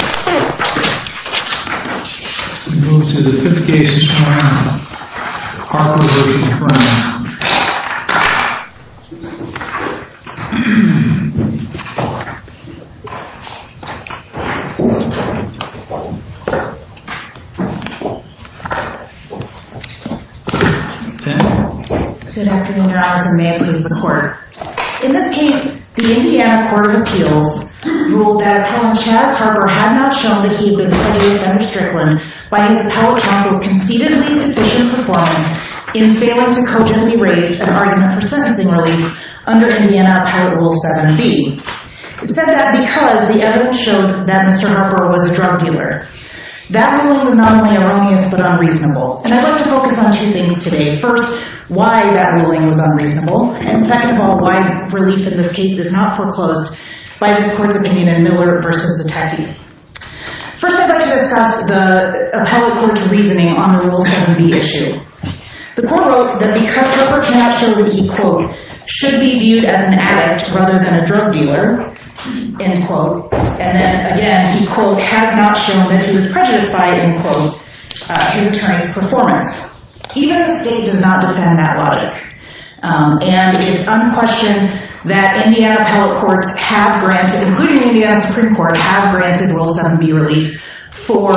We move to the 5th case this morning, Harper v. Brown. Good afternoon, Your Honors, and may it please the Court. In this case, the Indiana Court of Appeals ruled that Colonel Chas Harper had not shown that he had been prejudiced under Strickland by his appellate counsel's conceitedly deficient performance in failing to cogently raise an argument for sentencing relief under Indiana Pilot Rule 7b. It said that because the evidence showed that Mr. Harper was a drug dealer. That ruling was not only erroneous, but unreasonable. And I'd like to focus on two things today. First, why that ruling was unreasonable. And second of all, why relief in this case is not foreclosed by his court's opinion in Miller v. Attackee. First, I'd like to discuss the appellate court's reasoning on the Rule 7b issue. The court wrote that because Harper cannot show that he, quote, should be viewed as an addict rather than a drug dealer, end quote. And then again, he, quote, has not shown that he was prejudiced by, end quote, his attorney's performance. Even the state does not defend that logic. And it's unquestioned that Indiana appellate courts have granted, including the Indiana Supreme Court, have granted Rule 7b relief for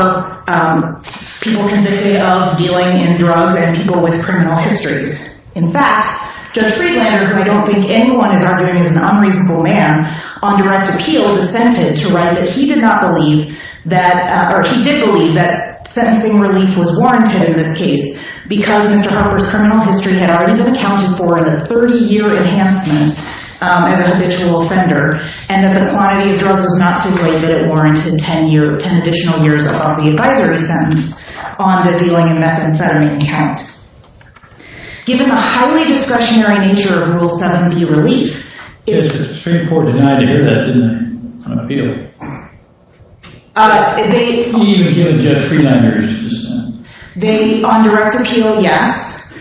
people convicted of dealing in drugs and people with criminal histories. In fact, Judge Friedlander, who I don't think anyone is arguing is an unreasonable man, on direct appeal dissented to write that he did not believe that, or he did believe that sentencing relief was warranted in this case because Mr. Harper's criminal history had already been accounted for in a 30-year enhancement as a habitual offender and that the quantity of drugs was not so great that it warranted 10 additional years of the advisory sentence on the dealing in methamphetamine count. Given the highly discretionary nature of Rule 7b relief, Yes, the Supreme Court denied to hear that, didn't they, on appeal? They, Even given Judge Friedlander's dissent. They, on direct appeal, yes.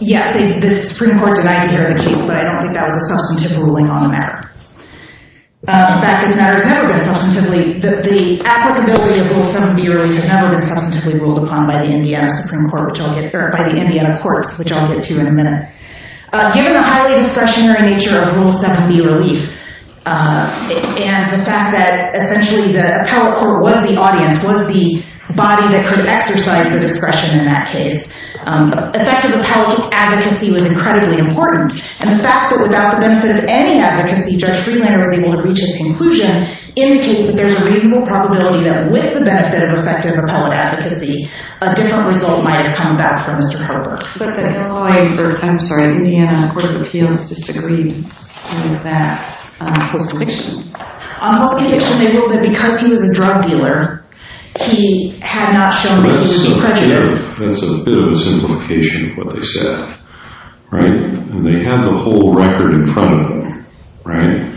Yes, the Supreme Court denied to hear the case, but I don't think that was a substantive ruling on the matter. In fact, this matter has never been substantively, the applicability of Rule 7b relief has never been substantively ruled upon by the Indiana Supreme Court, or by the Indiana courts, which I'll get to in a minute. Given the highly discretionary nature of Rule 7b relief, and the fact that, essentially, the appellate court was the audience, was the body that could exercise the discretion in that case, effective appellate advocacy was incredibly important, and the fact that without the benefit of any advocacy, Judge Friedlander was able to reach his conclusion, indicates that there's a reasonable probability that with the benefit of effective appellate advocacy, a different result might have come back for Mr. Harper. But the Illinois, or, I'm sorry, the Indiana Court of Appeals disagreed with that post-conviction. On post-conviction, they ruled that because he was a drug dealer, he had not shown reasonable prejudice. That's a bit of a simplification of what they said. Right? And they have the whole record in front of them. Right?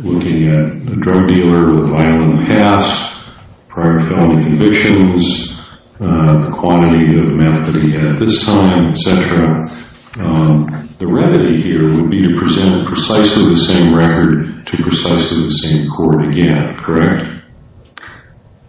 Looking at a drug dealer with a violent past, prior felony convictions, the quantity of meth that he had at this time, etc. The remedy here would be to present precisely the same record to precisely the same court again. Correct?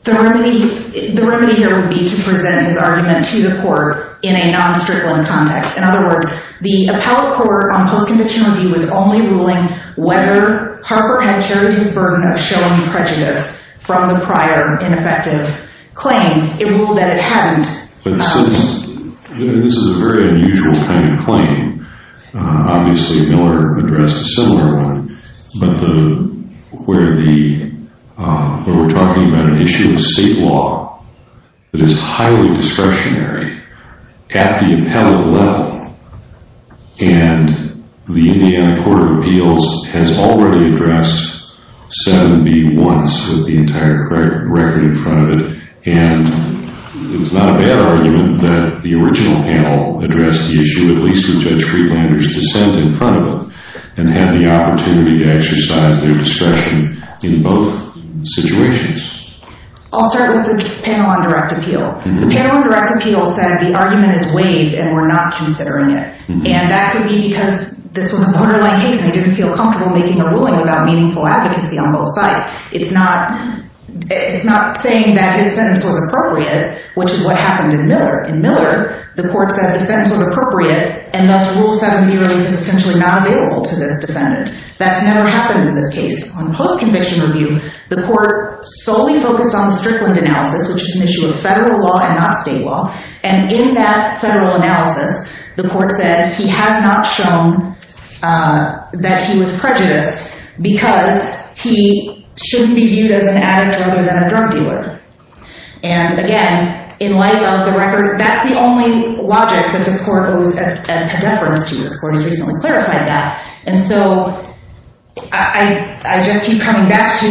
The remedy here would be to present his argument to the court in a non-strict-willing context. In other words, the appellate court on post-conviction review was only ruling whether Harper had carried the burden of showing prejudice from the prior ineffective claim. It ruled that it hadn't. This is a very unusual kind of claim. Obviously, Miller addressed a similar one. But we're talking about an issue of state law that is highly discretionary at the appellate level. And the Indiana Court of Appeals has already addressed 7B once with the entire record in front of it. And it's not a bad argument that the original panel addressed the issue, at least with Judge Friedlander's dissent in front of them, and had the opportunity to exercise their discretion in both situations. I'll start with the panel on direct appeal. The panel on direct appeal said the argument is waived and we're not considering it. And that could be because this was a borderline case and they didn't feel comfortable making a ruling without meaningful advocacy on both sides. It's not saying that his sentence was appropriate, which is what happened in Miller. In Miller, the court said the sentence was appropriate and thus Rule 7B is essentially not available to this defendant. That's never happened in this case. On post-conviction review, the court solely focused on Strickland analysis, which is an issue of federal law and not state law. And in that federal analysis, the court said he has not shown that he was prejudiced because he shouldn't be viewed as an addict rather than a drug dealer. And again, in light of the record, that's the only logic that this court owes a deference to. This court has recently clarified that. And so I just keep coming back to,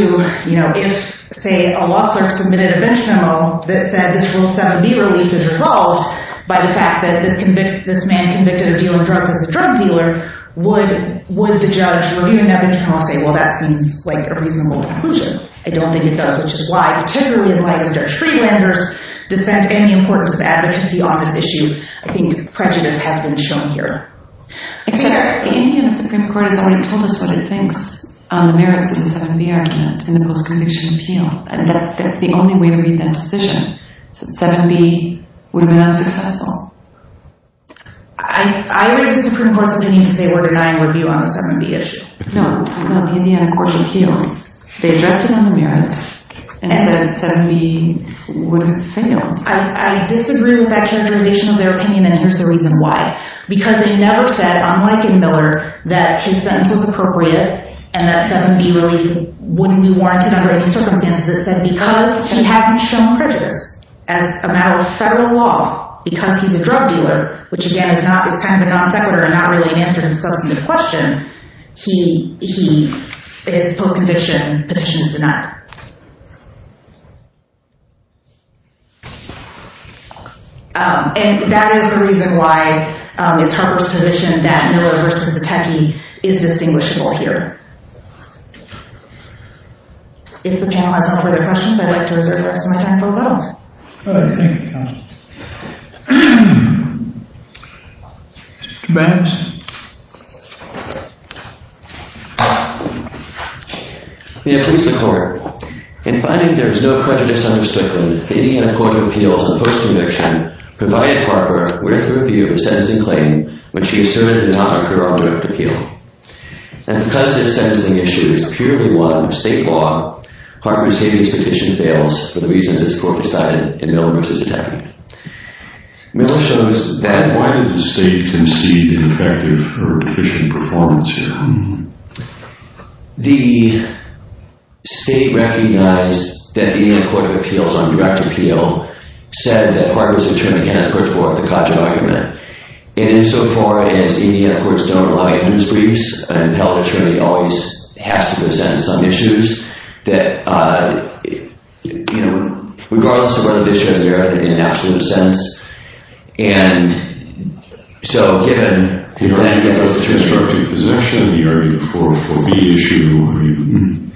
you know, if, say, a law clerk submitted a bench memo that said this Rule 7B relief is resolved by the fact that this man convicted of dealing drugs as a drug dealer, would the judge reviewing that bench memo say, well, that seems like a reasonable conclusion? I don't think it does, which is why, particularly in light of Judge Friedlander's dissent and the importance of advocacy on this issue, I think prejudice has been shown here. The Indiana Supreme Court has already told us what it thinks on the merits of the 7B argument in the post-conviction appeal, and that's the only way to read that decision, since 7B would have been unsuccessful. I read the Supreme Court's opinion to say we're denying review on the 7B issue. No, no, the Indiana court appeals. They addressed it on the merits and said 7B would have failed. I disagree with that characterization of their opinion, and here's the reason why. Because they never said, unlike in Miller, that his sentence was appropriate and that 7B relief wouldn't be warranted under any circumstances. It said because he hasn't shown prejudice as a matter of federal law, because he's a drug dealer, which, again, is kind of a non sequitur and not really an answer to the substantive question, his post-conviction petition is denied. And that is the reason why it's Harper's position that Miller v. Pateki is distinguishable here. If the panel has no further questions, I'd like to reserve the rest of my time for rebuttal. All right, thank you, counsel. Mr. Banks. May it please the court. In finding there is no prejudice under Stookly, the Indiana court of appeals and post-conviction provided Harper with a review of a sentencing claim which he asserted did not occur on direct appeal. And because this sentencing issue is purely one of state law, Harper's gave me his petition fails for the reasons that the court decided and Miller v. Pateki. Miller shows that... Why did the state concede an effective or deficient performance here? The state recognized that the Indiana court of appeals on direct appeal said that Harper's attorney had a purge war with the Codger argument. And insofar as Indiana courts don't allow you to use briefs, an impelled attorney always has to present some issues that, you know, regardless of whether the issue has a merit in an absolute sense. And so, given... You're arguing for constructive possession, you're arguing for the issue...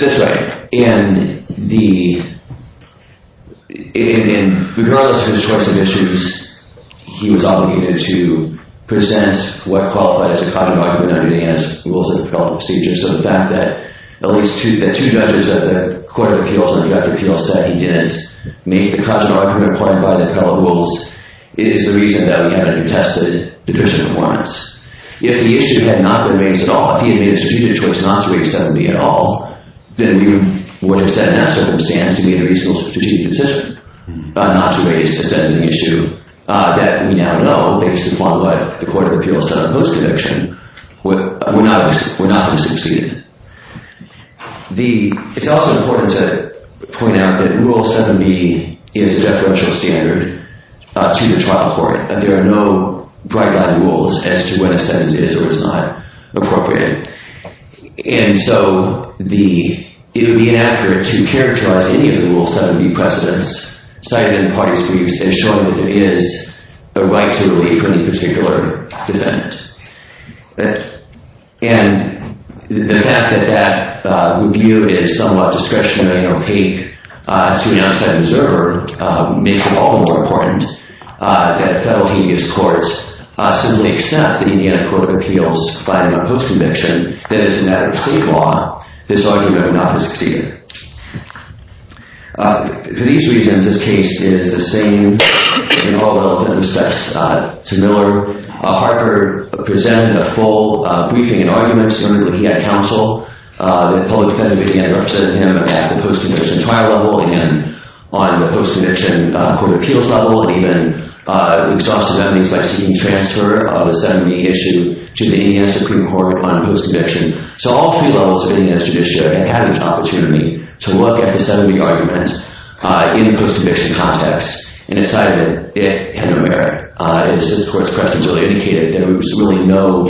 That's right. And the... And regardless of his choice of issues, he was obligated to present what qualified as a Codger argument as rules of appellate procedure. So the fact that at least two judges of the court of appeals on direct appeal said he didn't make the Codger argument applied by the appellate rules is the reason that we have a detested deficient performance. If the issue had not been raised at all, if he had made a strategic choice not to raise sentencing at all, then we would have set that circumstance to be a reasonable strategic decision not to raise the sentencing issue that we now know, based upon what the court of appeals said in the post-conviction, we're not going to succeed. It's also important to point out that Rule 7b is a deferential standard to the trial court. There are no bright-eyed rules as to when a sentence is or is not appropriate. And so, it would be inaccurate to characterize any of the Rule 7b precedents cited in the parties' briefs as showing that there is a right to relate for any particular defendant. And the fact that that review is somewhat discretionary and opaque to an outside observer makes it all the more important that federal habeas courts simply accept the Indiana court of appeals finding a post-conviction that it's a matter of state law. This argument would not have succeeded. For these reasons, this case is the same in all relevant respects to Miller. Harper presented a full briefing and arguments when looking at counsel. The public defense committee had represented him at the post-conviction trial level and on the post-conviction court of appeals level, and even exhausted on these by seeking transfer of a 7b issue to the Indiana Supreme Court on post-conviction. So, all three levels of the Indiana judiciary had an opportunity to look at the 7b argument in the post-conviction context and decided it had no merit. And the cis courts' precedents really indicated that there was really no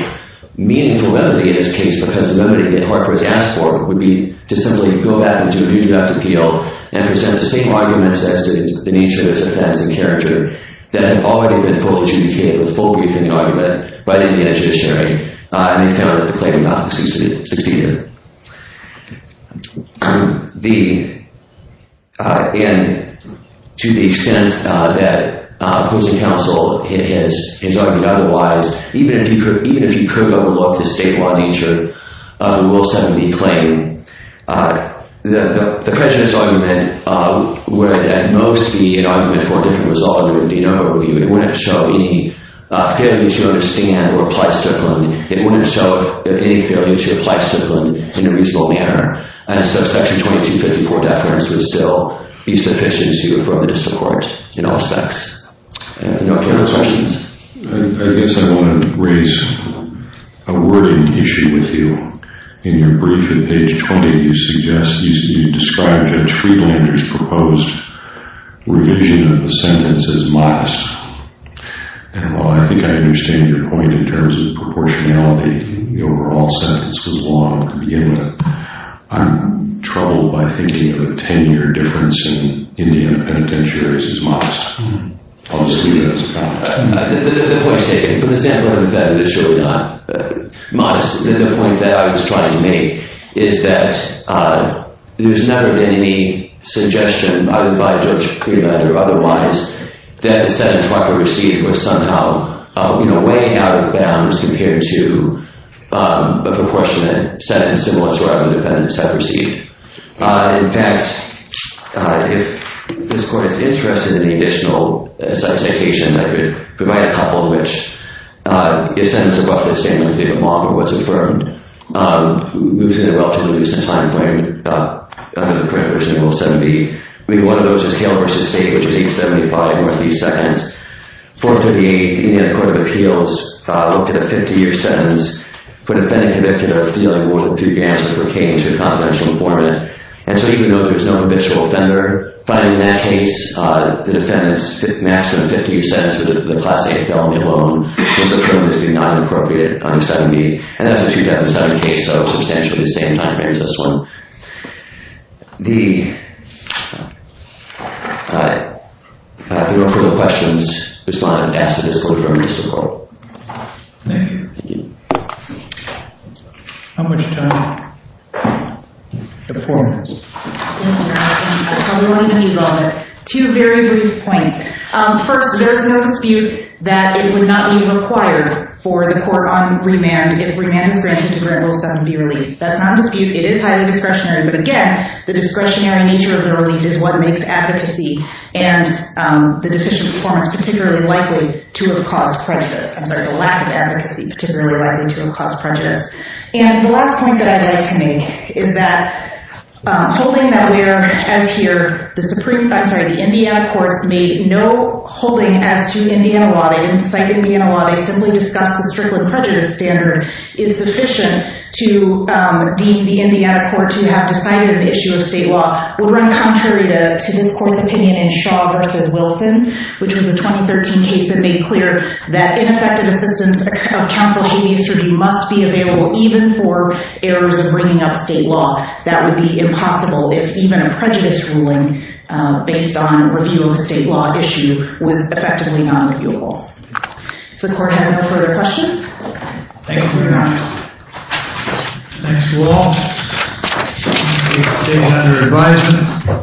meaningful remedy in this case because the remedy that Harper has asked for would be to simply go back and do a new deductive appeal and present the same arguments as the nature of his offense and character that had already been fully adjudicated with full briefing and argument by the Indiana judiciary. And they found that the claim did not succeed. And to the extent that Pruitt's counsel has argued otherwise, even if you could overlook the state-law nature of the Rule 7b claim, the prejudice argument would at most be an argument for a different resolve It wouldn't show any failure to understand or apply stipulant. It wouldn't show any failure to apply stipulant in a reasonable manner. And so Section 2254 deference would still be sufficient to refer to the district court in all respects. Do you have any other questions? I guess I want to raise a wording issue with you. In your brief at page 20, you described Judge Friedlander's proposed revision of the sentence as modest. And while I think I understand your point in terms of proportionality, the overall sentence was long to begin with, I'm troubled by thinking of a 10-year difference in Indiana penitentiaries as modest. I'll just leave that as a comment. The point, David, for the sake of showing a modest point that I was trying to make is that there's never been any suggestion, either by Judge Friedlander or otherwise, that the sentence that I received was somehow way out of bounds compared to a proportionate sentence similar to what other defendants have received. In fact, if this Court is interested in an additional citation, I could provide a couple of which. The sentence is roughly the same as the one that was affirmed. It was in a relatively recent time frame, under the current version of Rule 70. One of those is Kale v. State, which is 875 North East 2nd. 438, the Indiana Court of Appeals looked at a 50-year sentence for a defendant convicted of a feeling worthy of three gams of cocaine to a confidential informant. And so even though there's no habitual offender, in that case, the defendant's maximum 50-year sentence for the Class 8 felony alone was affirmed as being not inappropriate under 70. And that's a 2007 case, so substantially the same time frame as this one. If there are no further questions, respond, ask to disclose, affirm, or disavow. Thank you. Thank you. How much time? The floor. Thank you, Your Honor. I probably won't even use all of it. Two very brief points. First, there is no dispute that it would not be required for the court on remand if remand is granted to grant Rule 70 relief. That's not a dispute. It is highly discretionary. But again, the discretionary nature of the relief is what makes advocacy and the deficient performance particularly likely to have caused prejudice. I'm sorry, the lack of advocacy particularly likely to have caused prejudice. And the last point that I'd like to make is that holding that we are, as here, the Supreme, I'm sorry, the Indiana courts made no holding as to Indiana law. They didn't cite Indiana law. They simply discussed the Strickland prejudice standard is sufficient to deem the Indiana court to have decided an issue of state law would run contrary to this court's opinion in Shaw v. Wilson, which was a 2013 case that made clear that ineffective assistance of counsel in a case review must be available even for errors in bringing up state law. That would be impossible if even a prejudice ruling based on review of a state law issue was effectively non-reviewable. If the court has no further questions. Thank you, Your Honor. Thanks to all. The case is taken under advisement.